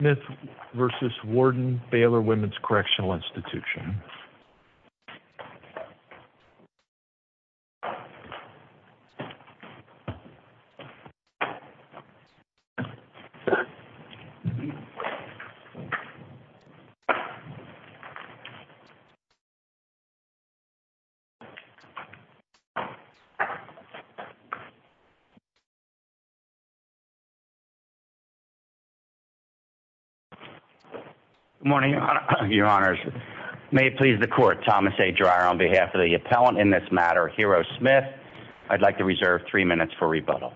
Smith v. Warden Baylor Womens Correctional Institution Good morning, your honors. May it please the court, Thomas A. Dreyer on behalf of the appellant in this matter, Hero Smith. I'd like to reserve three minutes for rebuttal.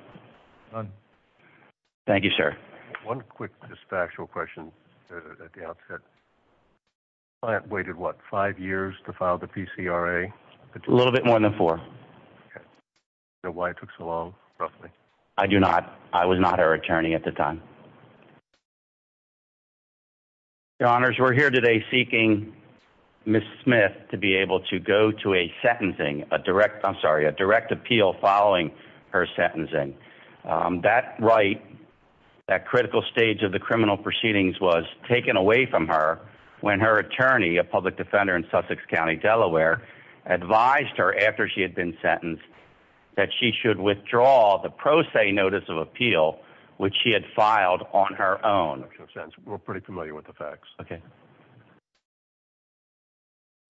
Thank you, sir. One quick dispatchal question at the outset. The client waited, what, five years to file the PCRA? A little bit more than four. Do you know why it took so long, roughly? I do not. I was not her attorney at the time. Your honors, we're here today seeking Ms. Smith to be able to go to a sentencing, a direct, I'm sorry, a direct appeal following her sentencing. That right, that critical stage of the criminal proceedings was taken away from her when her attorney, a public defender in Sussex filed a pro se notice of appeal, which she had filed on her own. Makes no sense. We're pretty familiar with the facts. Okay.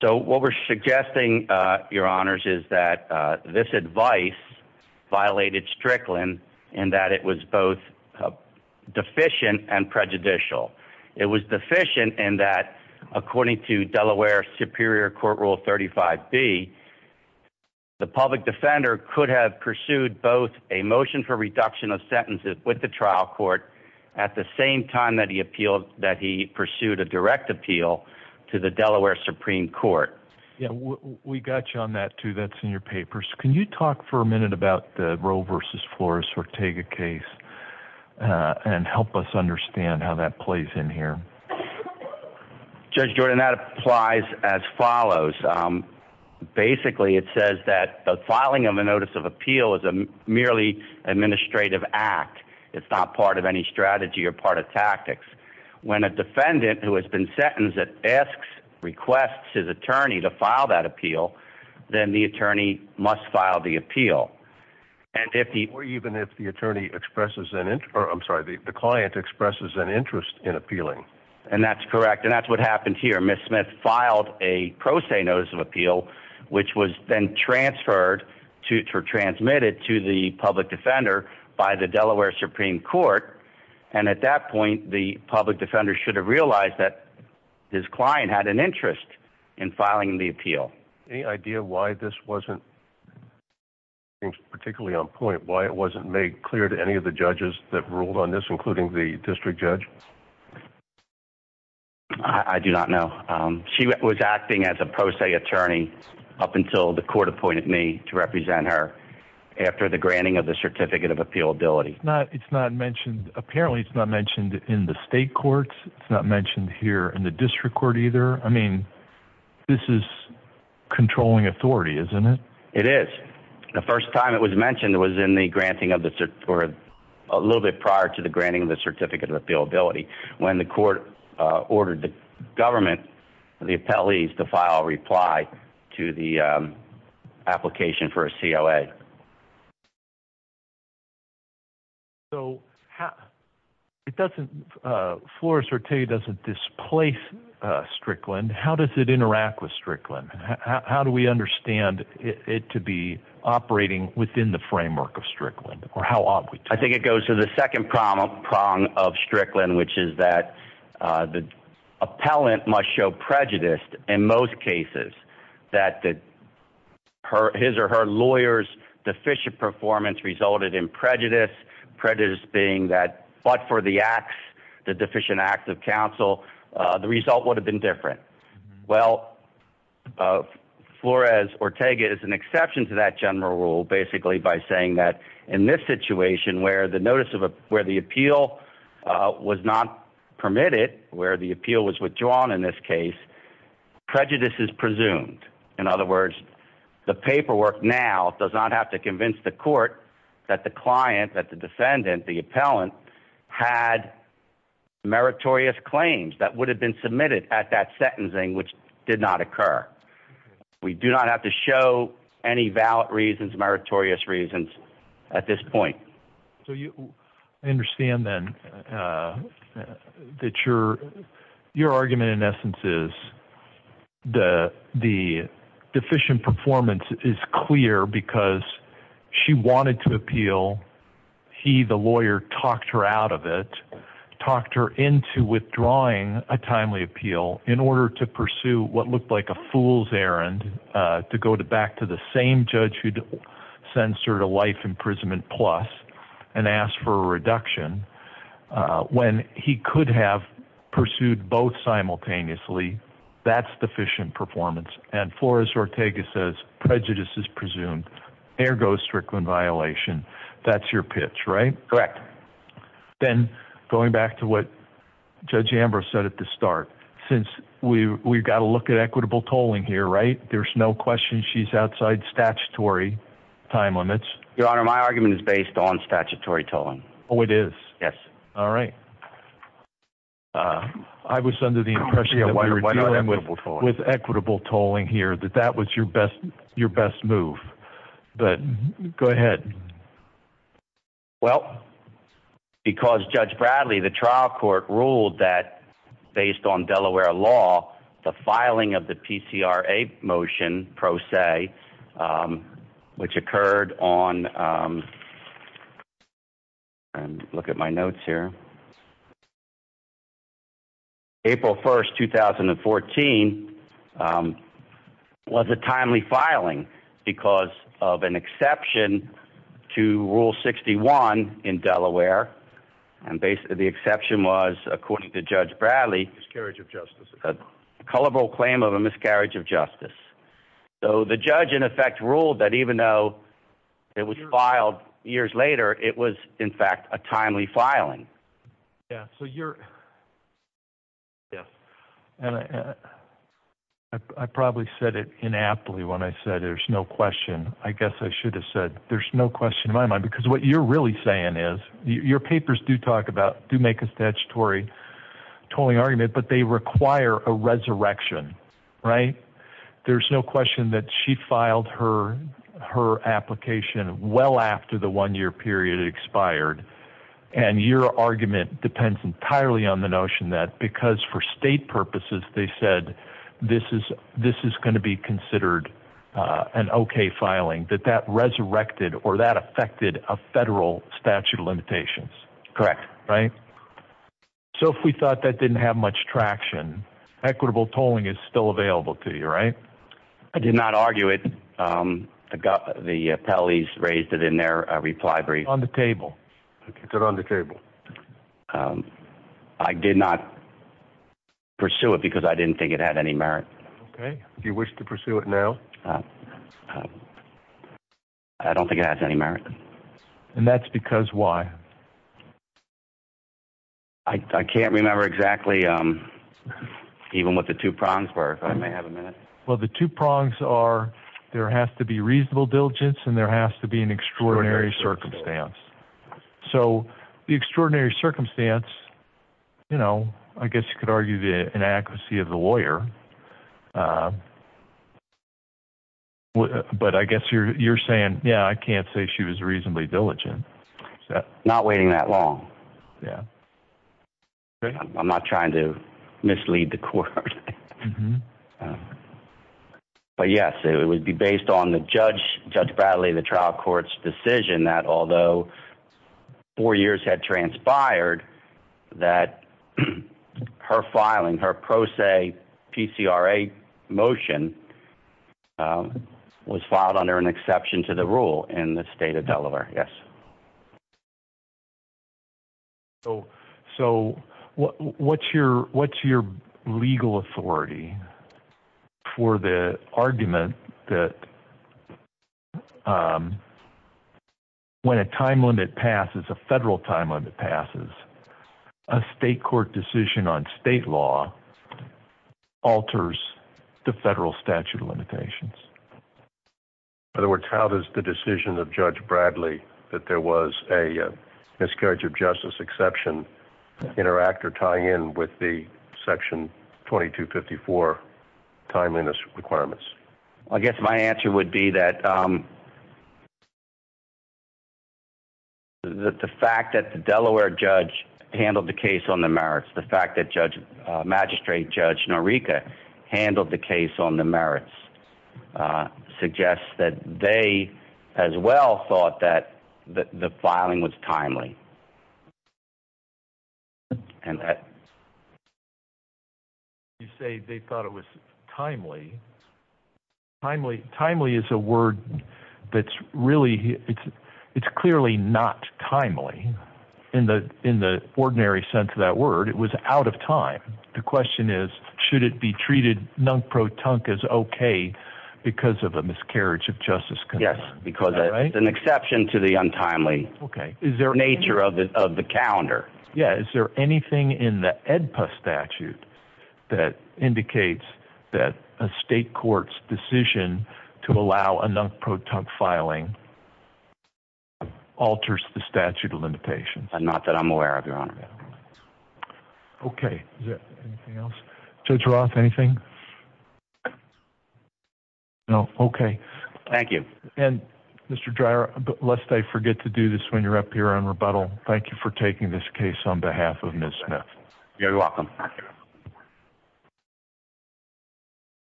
So what we're suggesting, your honors, is that this advice violated Strickland in that it was both deficient and prejudicial. It was deficient in that, according to Delaware Superior Court Rule 35B, the public defender could have pursued both a motion for reduction of sentences with the trial court at the same time that he appealed, that he pursued a direct appeal to the Delaware Supreme Court. Yeah. We got you on that too. That's in your papers. Can you talk for a minute about the Roe versus Flores Ortega case and help us understand how that plays in here? Judge Jordan, that applies as follows. Basically, it says that the filing of a notice of appeal is a merely administrative act. It's not part of any strategy or part of tactics. When a defendant who has been sentenced asks, requests his attorney to file that appeal, then the attorney must file the appeal. And if the- Or even if the attorney expresses an interest, or I'm sorry, the client expresses an interest in appealing. And that's correct. And that's what happened here. Ms. Smith filed a pro se notice of appeal, which was then transferred to, or transmitted to the public defender by the Delaware Supreme Court. And at that point, the public defender should have realized that his client had an interest in filing the appeal. Any idea why this wasn't particularly on point? Why it wasn't made clear to any of the judges that ruled on this, including the district judge? I do not know. She was acting as a pro se attorney up until the court appointed me to represent her after the granting of the certificate of appealability. It's not mentioned, apparently, it's not mentioned in the state courts. It's not mentioned here in the district court either. I was in the granting of the, or a little bit prior to the granting of the certificate of appealability. When the court ordered the government, the appellees to file a reply to the application for a COA. So it doesn't, Flora Sertei doesn't displace Strickland. How does it work? I think it goes to the second prong of Strickland, which is that the appellant must show prejudice in most cases that his or her lawyer's deficient performance resulted in prejudice. Prejudice being that, but for the acts, the deficient acts of counsel, the result would have been different. Well, Flores Ortega is an exception to that general basically by saying that in this situation where the notice of where the appeal was not permitted, where the appeal was withdrawn in this case, prejudice is presumed. In other words, the paperwork now does not have to convince the court that the client, that the defendant, the appellant had meritorious claims that would have been submitted at that sentencing, which did not occur. We do not have to show any valid reasons, meritorious reasons at this point. I understand then that your argument in essence is the deficient performance is clear because she wanted to appeal. He, the lawyer, talked her out of it, talked her into withdrawing a timely appeal in order to pursue what looked like a fool's errand to go back to the same judge who'd censored a life imprisonment plus and asked for a reduction when he could have pursued both simultaneously. That's deficient performance. And Flores Ortega says prejudice is presumed, ergo Strickland violation. That's your pitch, right? Correct. Then going back to what Judge Ambrose said at the start, since we've got to look at equitable tolling here, right? There's no question she's outside statutory time limits. Your Honor, my argument is based on statutory tolling. Oh, it is? Yes. All right. I was under the impression that we were dealing with equitable tolling here, that that was your best move. But go ahead. Well, because Judge Bradley, the trial court, ruled that based on Delaware law, the filing of the PCRA motion pro se, which occurred on and look at my notes here, April 1st, 2014, was a timely filing because of an exception to Rule 61 in Delaware. And basically the exception was, according to Judge Bradley, miscarriage of justice, a culpable claim of a miscarriage of justice. So the judge in effect ruled that even though it was filed years later, it was, in fact, a timely filing. Yeah. So you're. Yes. And I probably said it inappropriately when I said there's no question, I guess I should have said there's no question in my mind, because what you're really saying is your papers do talk about, do make a statutory tolling argument, but they require a resurrection, right? There's no question that she filed her application well after the one year period expired. And your argument depends entirely on the notion that because for state purposes, they said this is going to be considered an okay filing, that that resurrected or that affected a federal statute of limitations. Correct. Right. So if we thought that didn't have much traction, equitable tolling is still available to you, right? I did not argue it. The appellees raised it in their reply brief. On the table. Okay. Put it on the table. I did not pursue it because I didn't think it had any merit. Okay. Do you wish to pursue it now? I don't think it has any merit. And that's because why? I can't remember exactly even what the two prongs were. I may have a minute. Well, the two prongs are there has to be reasonable diligence and there has to be extraordinary circumstance. So the extraordinary circumstance, you know, I guess you could argue the inadequacy of the lawyer, but I guess you're saying, yeah, I can't say she was reasonably diligent. Not waiting that long. Yeah. I'm not trying to mislead the court, but yes, it would be based on the judge, judge Bradley, the trial court's decision that although four years had transpired that her filing her pro se PCRA motion was filed under an exception to the rule in the state of Delaware. Yes. So, so what's your, what's your legal authority for the argument that when a time limit passes, a federal timeline that passes a state court decision on state law alters the federal statute of limitations. In other words, how does the decision of judge Bradley that there was a miscarriage of justice exception interact or tie in with the section 2254 timeliness requirements? I guess my answer would be that the fact that the Delaware judge handled the case on the merits, the fact that judge magistrate judge Norica handled the case on the merits suggests that they as well thought that the filing was timely and that you say they thought it was timely. Timely timely is a word that's really, it's, it's clearly not timely in the, in the ordinary sense of that word. It was out of time. The question is, should it be treated non-pro-tunk is okay because of a miscarriage of justice? Yes, because it's an exception to the untimely. Okay. Is there a nature of the, of the calendar? Yeah. Is there anything in the EDPA statute that indicates that a state court's decision to allow a non-pro-tunk filing alters the statute of limitations? Not that I'm aware of your honor. Okay. Is there anything else? Judge Roth, anything? No. Okay. Thank you. And Mr. Dreier, lest I forget to do this when you're up here on rebuttal. Thank you for taking this case on behalf of Ms. Smith. You're welcome.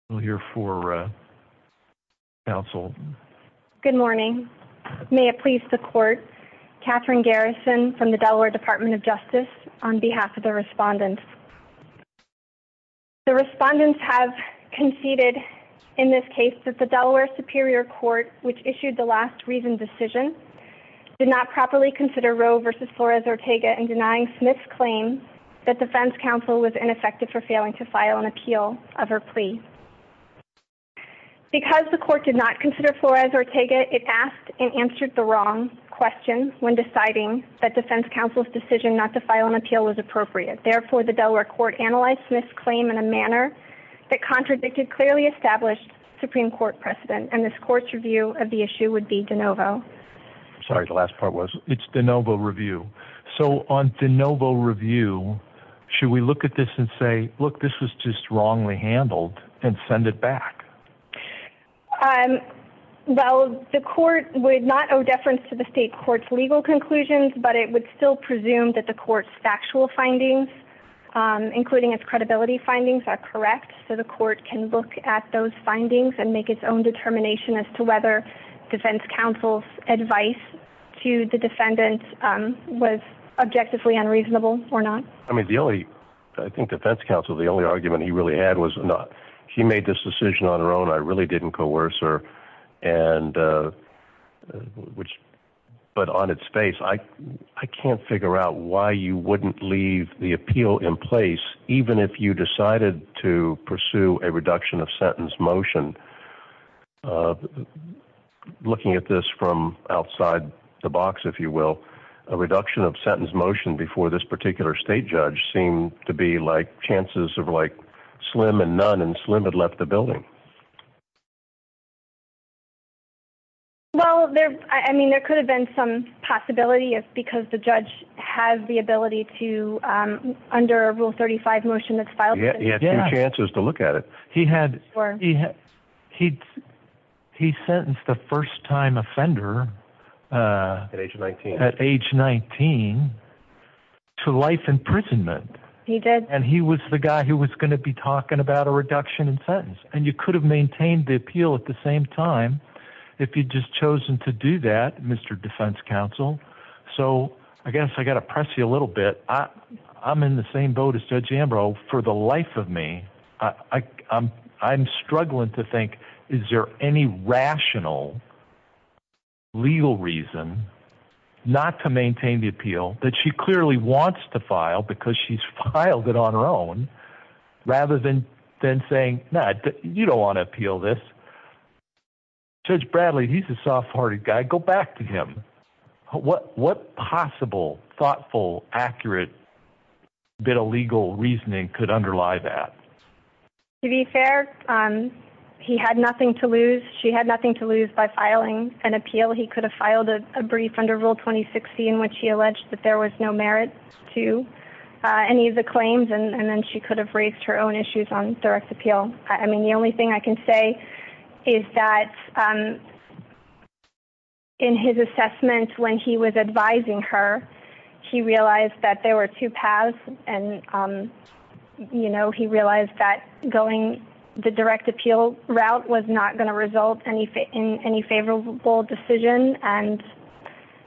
We'll hear for counsel. Good morning. May it please the court. Catherine Garrison from the Delaware Department of Justice on behalf of the respondents. The respondents have conceded in this case that the Delaware Superior Court, which issued the last reason decision did not properly consider Roe versus Flores Ortega and denying Smith's claim that defense counsel was ineffective for failing to file an appeal of her plea. Because the court did not consider Flores Ortega, it asked and answered the wrong question when deciding that defense counsel's decision not to file an appeal was appropriate. Therefore, the Delaware court analyzed Smith's claim in a manner that contradicted clearly established Supreme Court precedent. And this court's review of the issue would be de novo. Sorry. The last part was it's de novo review. So on de novo review, should we look at this and say, look, this was just wrongly handled and send it back? Well, the court would not owe deference to the state court's legal conclusions, but it would still presume that the court's factual findings, including its credibility findings are correct. So the court can look at those findings and make its own determination as to whether defense counsel's advice to the defendants was objectively unreasonable or not. I mean, the only, I think defense counsel, the only argument he really had was not, she made this decision on her own. I really didn't coerce her and which, but on its face, I can't figure out why you wouldn't leave the appeal in place, even if you decided to pursue a reduction of sentence motion, uh, looking at this from outside the box, if you will, a reduction of sentence motion before this particular state judge seemed to be like chances of like slim and none and slim had left the building. Well, there, I mean, there could have been some possibility of, because the judge has the ability to, um, under rule 35 motion that's filed, he had two chances to look at it. He had, he had, he, he sentenced the first time offender, uh, at age 19 to life imprisonment. He did. And he was the guy who was going to be talking about a reduction in sentence. And you could have maintained the appeal at the same time if you'd just chosen to do that, Mr. Defense counsel. So I guess I got to press you a little bit. Uh, I'm in the same boat as judge Ambrose for the life of me. I I'm, I'm struggling to think, is there any rational legal reason not to maintain the appeal that she clearly wants to file because she's filed it on her own rather than, than saying, nah, you don't want to appeal this judge Bradley. He's a soft hearted guy. Go back to him. What, what possible thoughtful, accurate bit of legal reasoning could underlie that? To be fair. Um, he had nothing to lose. She had nothing to lose by filing an appeal. He could have filed a brief under rule 2016, which he alleged that there was no merit to, uh, any of the claims. And then she could have raised her appeal. I mean, the only thing I can say is that, um, in his assessment, when he was advising her, he realized that there were two paths and, um, you know, he realized that going the direct appeal route was not going to result in any favorable decision. And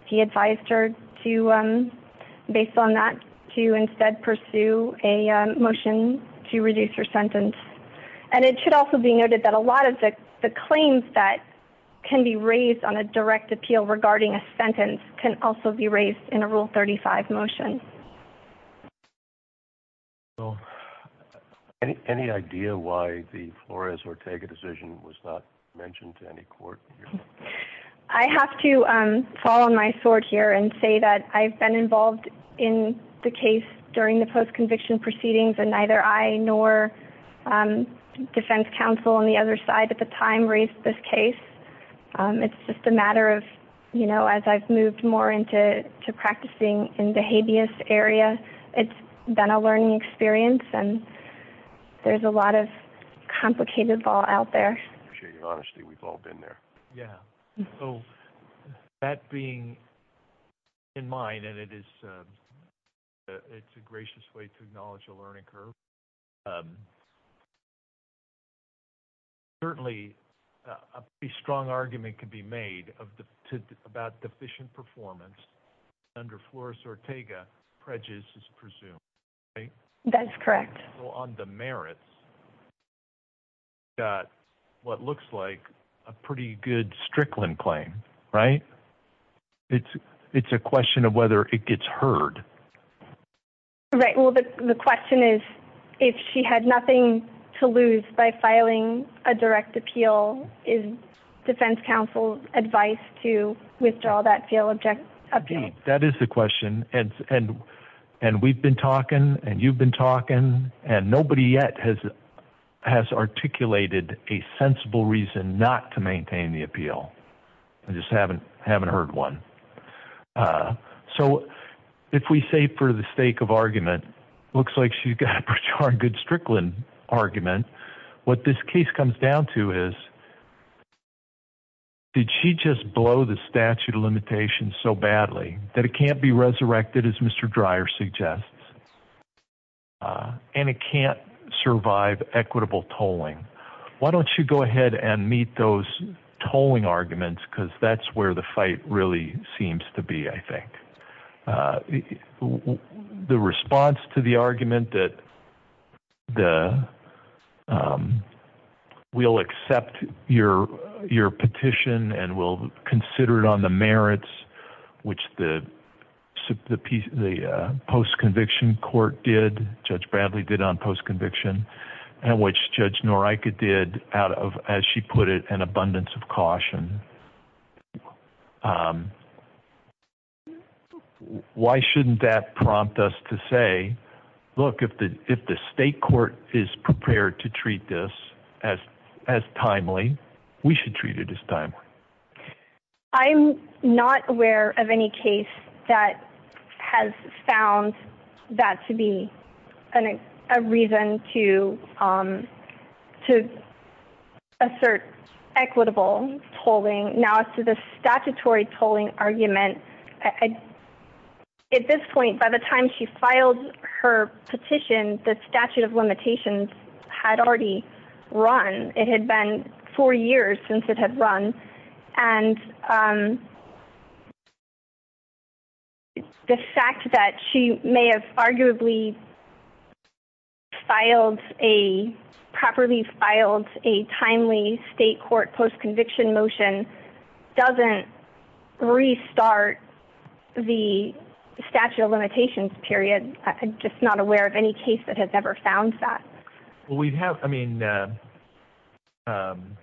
he advised her to, um, based on that to instead pursue a motion to reduce her sentence. And it should also be noted that a lot of the claims that can be raised on a direct appeal regarding a sentence can also be raised in a rule 35 motion. So any, any idea why the Flores Ortega decision was not mentioned to any sort here and say that I've been involved in the case during the post-conviction proceedings and neither I nor, um, defense counsel on the other side at the time raised this case. Um, it's just a matter of, you know, as I've moved more into, to practicing in the habeas area, it's been a learning experience and there's a lot of complicated law out there. I appreciate your honesty. We've in mind, and it is, um, it's a gracious way to acknowledge a learning curve. Um, certainly a pretty strong argument can be made of the, to, about deficient performance under Flores Ortega, prejudice is presumed, right? That's correct. So on the merits, you got what looks like a pretty good Strickland claim, right? It's, it's a question of whether it gets heard. Right. Well, the, the question is if she had nothing to lose by filing a direct appeal is defense counsel advice to withdraw that field object. That is the question. And, and, nobody yet has, has articulated a sensible reason not to maintain the appeal. I just haven't, haven't heard one. Uh, so if we say for the sake of argument, it looks like she's got a pretty darn good Strickland argument. What this case comes down to is did she just blow the statute of limitations so badly that it can't be resurrected as Mr. Dreier suggests? Uh, and it can't survive equitable tolling. Why don't you go ahead and meet those tolling arguments? Cause that's where the fight really seems to be. I think, uh, the response to the argument that the, um, we'll accept your, your petition and we'll sit the piece, the, uh, post conviction court did judge Bradley did on post conviction and which judge Norica did out of, as she put it an abundance of caution. Um, why shouldn't that prompt us to say, look, if the, if the state court is prepared to treat this as, as timely, we should treat it as time. I'm not aware of any case that has found that to be an, a reason to, um, to assert equitable holding now to the statutory tolling argument. At this point, by the time she filed her petition, the statute of limitations had already run. It had been four years since it had run. And, um, the fact that she may have arguably filed a properly filed a timely state court post conviction motion doesn't restart the statute of limitations period. I'm just not aware of any case that has ever found that we'd have. I mean, uh, um,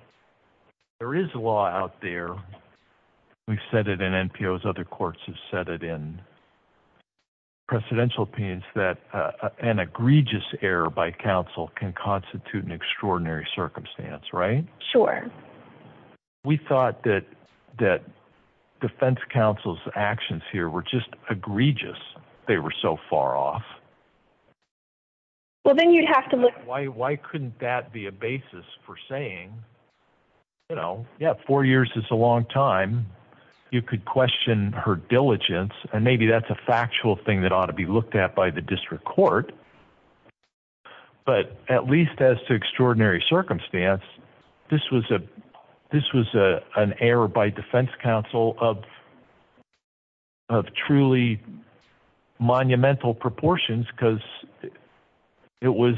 there is a law out there. We've said it in NPOs, other courts have said it in presidential opinions that, uh, an egregious error by counsel can constitute an extraordinary circumstance, right? Sure. We thought that, that defense counsel's actions here were just egregious. They were so far off. Well, then you'd have to look. Why, why couldn't that be a basis for saying, you know, yeah, four years is a long time. You could question her diligence and maybe that's a factual thing that ought to be looked at by the district court. But at least as to extraordinary circumstance, this was a, this was a, an error by defense counsel of, of truly monumental proportions because it was,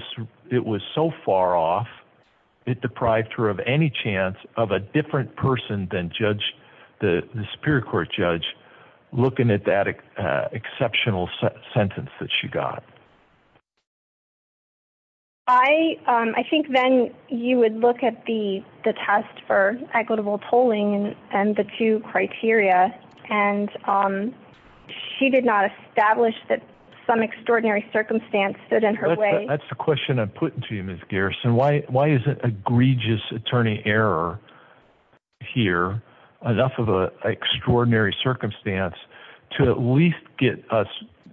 it was so far off. It deprived her of any chance of a different person than judge the superior court judge looking at that exceptional sentence that she got. I, um, I think then you would look at the, the test for equitable polling and the two criteria. And, um, she did not establish that some extraordinary circumstance stood in her way. That's the question I'm putting to you, Ms. Garrison. Why, why is it egregious attorney error here enough of a extraordinary circumstance to at least get us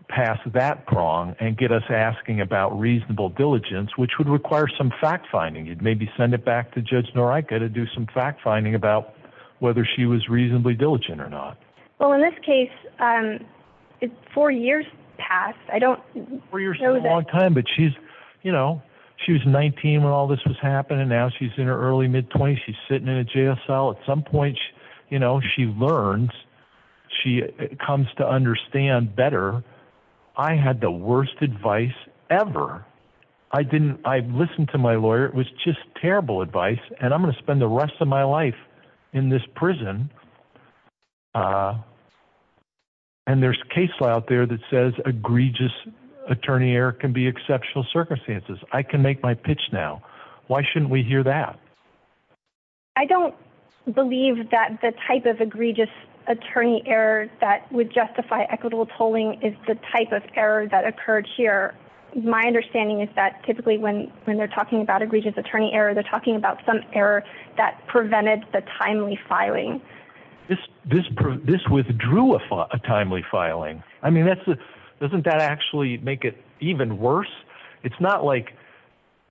past that prong and get us asking about reasonable diligence, which would require some fact finding. You'd maybe send it back to judge Norica to do some fact finding about whether she was reasonably diligent or not. Well, in this case, um, four years past, I don't know that long time, but she's, you know, she was 19 when all this was happening. Now she's in her early mid twenties. She's sitting in a JSL at some point, you know, she learns, she comes to understand better. I had the worst advice ever. I didn't, I listened to my lawyer. It was just terrible advice and I'm going to spend the rest of my life in this prison. Uh, and there's case law out there that says egregious attorney error can be exceptional circumstances. I can make my pitch now. Why shouldn't we hear that? I don't believe that the type of egregious attorney error that would justify equitable polling is the type of error that occurred here. My understanding is that typically when, when they're talking about egregious attorney error, they're talking about some error that prevented the timely filing. This, this, this withdrew a timely filing. I mean, that's the, doesn't that actually make it even worse? It's not like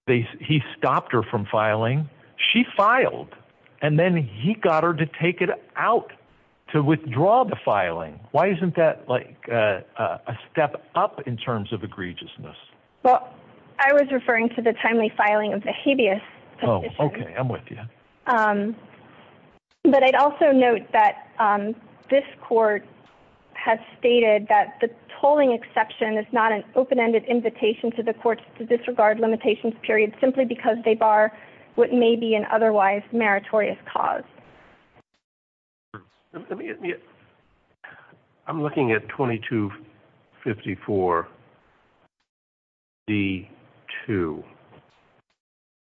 they, he stopped her from filing. She filed and then he got her to take it out to withdraw the filing. Why isn't that like a step up in terms of egregiousness? Well, I was referring to the timely filing of the habeas. Oh, okay. I'm with you. Um, but I'd also note that, um, this court has stated that the tolling exception is not an open-ended invitation to the courts to disregard limitations period simply because they bar what may be an otherwise meritorious cause. I'm looking at 2254 D2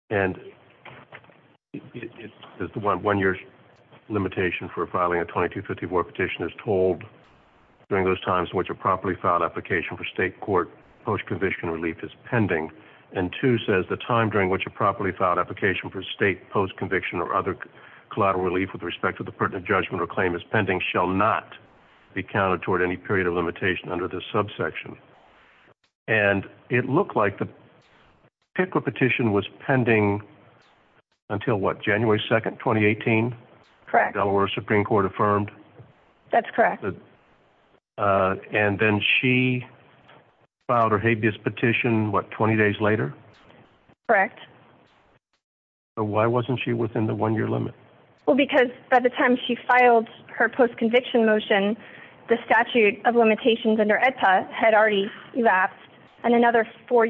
and it is the one, one year's limitation for filing a 2254 petition is told during those times in which a properly filed application for state court post-conviction relief is pending. And two says the time during which a properly filed application for state post conviction or other collateral relief with respect to the pertinent judgment or claim is pending shall not be counted toward any period of limitation under this subsection. And it looked like the picker petition was pending until what January 2nd, 2018 Delaware Supreme court affirmed. That's correct. Uh, and then she filed her habeas petition, what, 20 days later, correct. So why wasn't she within the one year limit? Well, because by the time she filed her post conviction motion, the statute of limitations under ETA had already lapsed and another four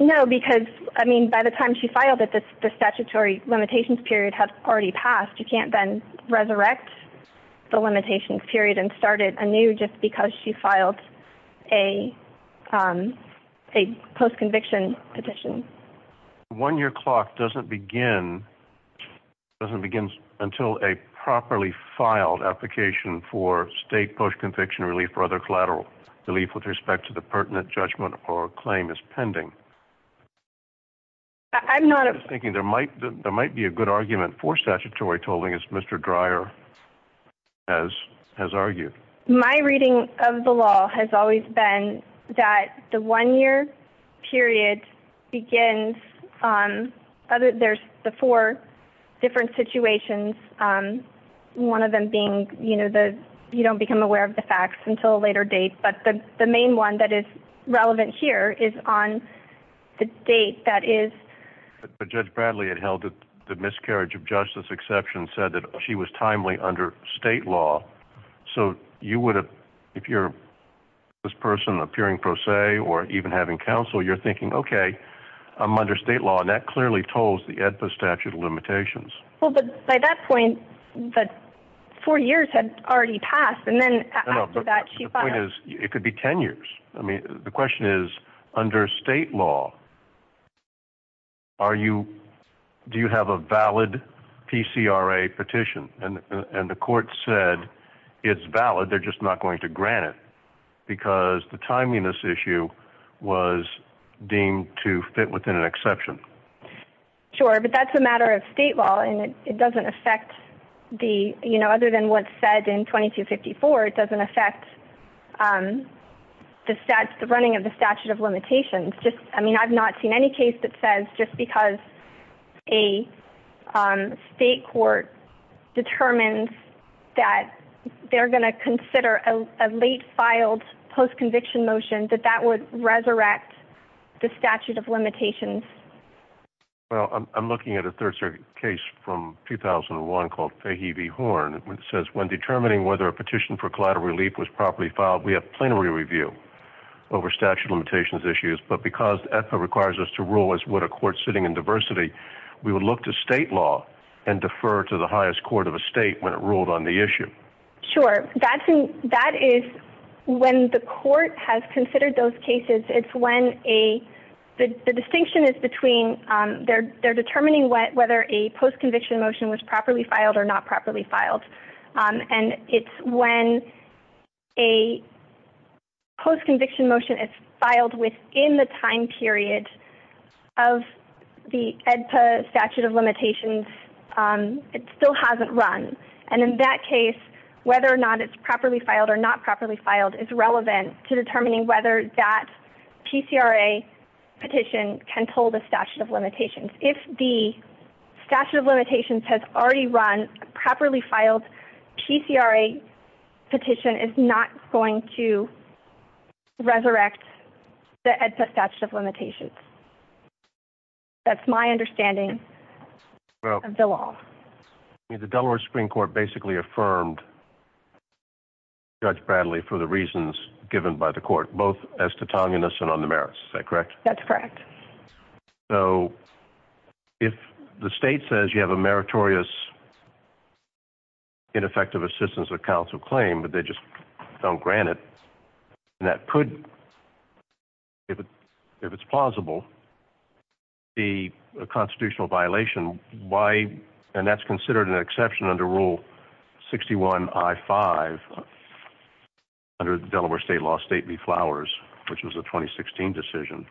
No, because I mean, by the time she filed it, the statutory limitations period has already passed. You can't then resurrect the limitations period and started a new, just because she filed a, um, a post conviction petition. One year clock doesn't begin. Doesn't begin until a properly filed application for state post conviction relief for other collateral relief with respect to the pertinent judgment or claim is pending. I'm not thinking there might, there might be a good argument for statutory tolling as Mr. Dreier has, has argued. My reading of the law has always been that the one year period begins, um, other, there's the four different situations. Um, one of them being, you know, the, you don't become aware of the facts until a later date, but the, the main one that is relevant here is on the date. That is, but judge Bradley had held it. The miscarriage of justice exception said that she was timely under state law. So you would have, if you're this person appearing pro se, or even having counsel, you're thinking, okay, I'm under state law and that clearly tolls the point is it could be 10 years. I mean, the question is under state law, are you, do you have a valid PCRA petition? And the court said it's valid. They're just not going to grant it because the timeliness issue was deemed to fit within an exception. Sure. But that's a matter of state law and it doesn't affect the, you know, other than what's in 2254, it doesn't affect, um, the stats, the running of the statute of limitations. Just, I mean, I've not seen any case that says just because a, um, state court determines that they're going to consider a late filed post-conviction motion that that would resurrect the statute of limitations. Well, I'm looking at a third circuit case from 2001 called Fahey v. Horn, which says when determining whether a petition for collateral relief was properly filed, we have plenary review over statute of limitations issues. But because EPA requires us to rule as what a court sitting in diversity, we would look to state law and defer to the highest court of a state when it ruled on the issue. Sure. That is when the court has considered those cases. It's when a, the distinction is between, um, they're, they're filed or not properly filed. Um, and it's when a post-conviction motion is filed within the time period of the EDPA statute of limitations, um, it still hasn't run. And in that case, whether or not it's properly filed or not properly filed is relevant to determining whether that statute of limitations has already run properly filed. PCRA petition is not going to resurrect the EDPA statute of limitations. That's my understanding of the law. The Delaware Supreme court basically affirmed judge Bradley for the reasons given by the court, both as to Tonga and us and on the merits, is that correct? That's correct. So if the state says you have a meritorious ineffective assistance of counsel claim, but they just don't grant it. And that could, if it, if it's plausible, the constitutional violation, why, and that's which was a 2016 decision.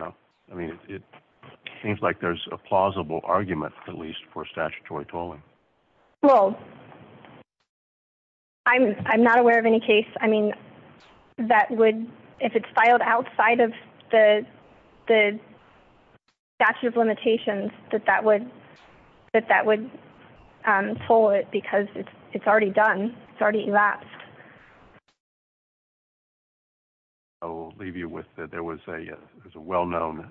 No, I mean, it seems like there's a plausible argument at least for statutory tolling. Well, I'm, I'm not aware of any case. I mean, that would, if it's filed outside of the, the statute of limitations that that would, that that would, um, pull it because it's already done. It's already elapsed. I'll leave you with that. There was a, there's a well-known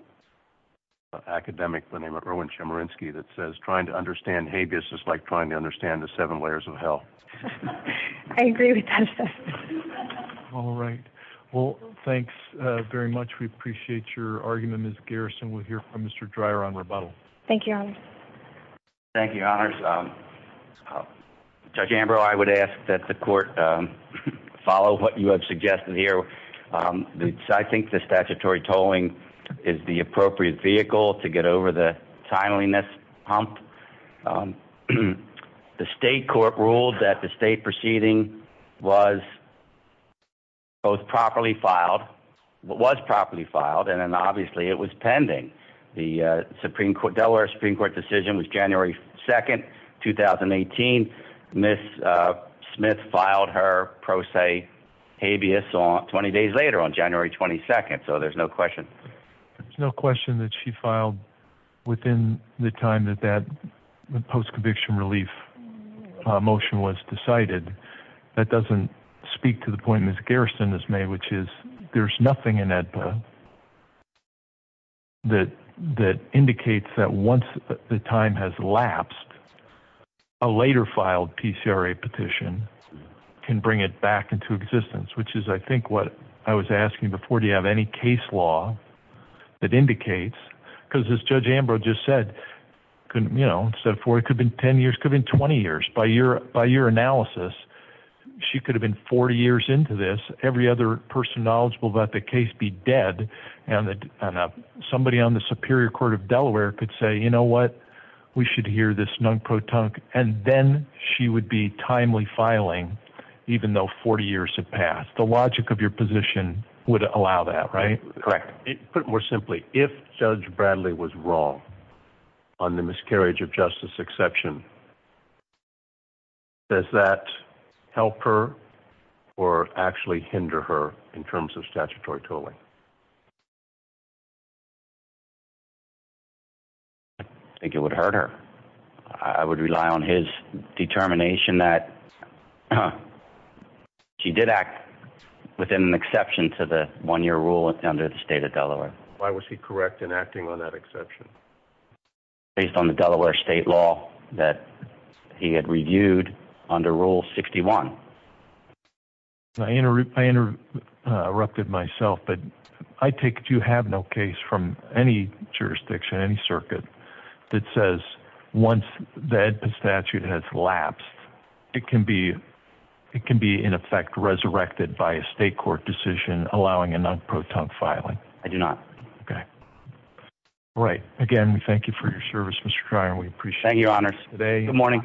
academic, the name of Erwin Chemerinsky that says, trying to understand habeas is like trying to understand the seven layers of hell. I agree with that. All right. Well, thanks very much. We appreciate your argument. Ms. Garrison, we'll hear from Mr. Dreier on rebuttal. Thank you. Thank you. Judge Ambrose, I would ask that the court, um, follow what you have suggested here. Um, I think the statutory tolling is the appropriate vehicle to get over the timeliness hump. Um, the state court ruled that the state proceeding was both properly filed, what was properly filed. And then obviously it was pending. The, uh, Supreme court Delaware Supreme court decision was January 2nd, 2018. Ms. Smith filed her pro se habeas on 20 days later on January 22nd. So there's no question. There's no question that she filed within the time that that post conviction relief motion was decided. That doesn't speak to the point. Ms. Garrison has made, which is there's nothing in that, uh, that, that indicates that once the time has lapsed a later filed PCRA petition can bring it back into existence, which is, I think what I was asking before, do you have any case law that indicates because as judge Ambrose just said, couldn't, you know, instead of four, it could have been 10 years could have been 20 years by year by into this, every other person knowledgeable about the case be dead. And that somebody on the superior court of Delaware could say, you know what we should hear this non-pro tongue. And then she would be timely filing, even though 40 years have passed, the logic of your position would allow that, right? Correct. Put more simply, if judge Bradley was wrong on the miscarriage of justice exception, does that help her or actually hinder her in terms of statutory tolling? I think it would hurt her. I would rely on his determination that she did act within an exception to the one-year rule under the state of Delaware. Why was he correct in acting on that exception? Based on the Delaware state law that he had reviewed under rule 61. I interrupted myself, but I take it. You have no case from any jurisdiction, any circuit that says once the statute has lapsed, it can be, it can be in effect resurrected by a state court decision, allowing a non-pro tongue filing. I do not. Okay. Right. Again, we thank you for your service, Mr. Cryer. We appreciate your honor today. Good morning.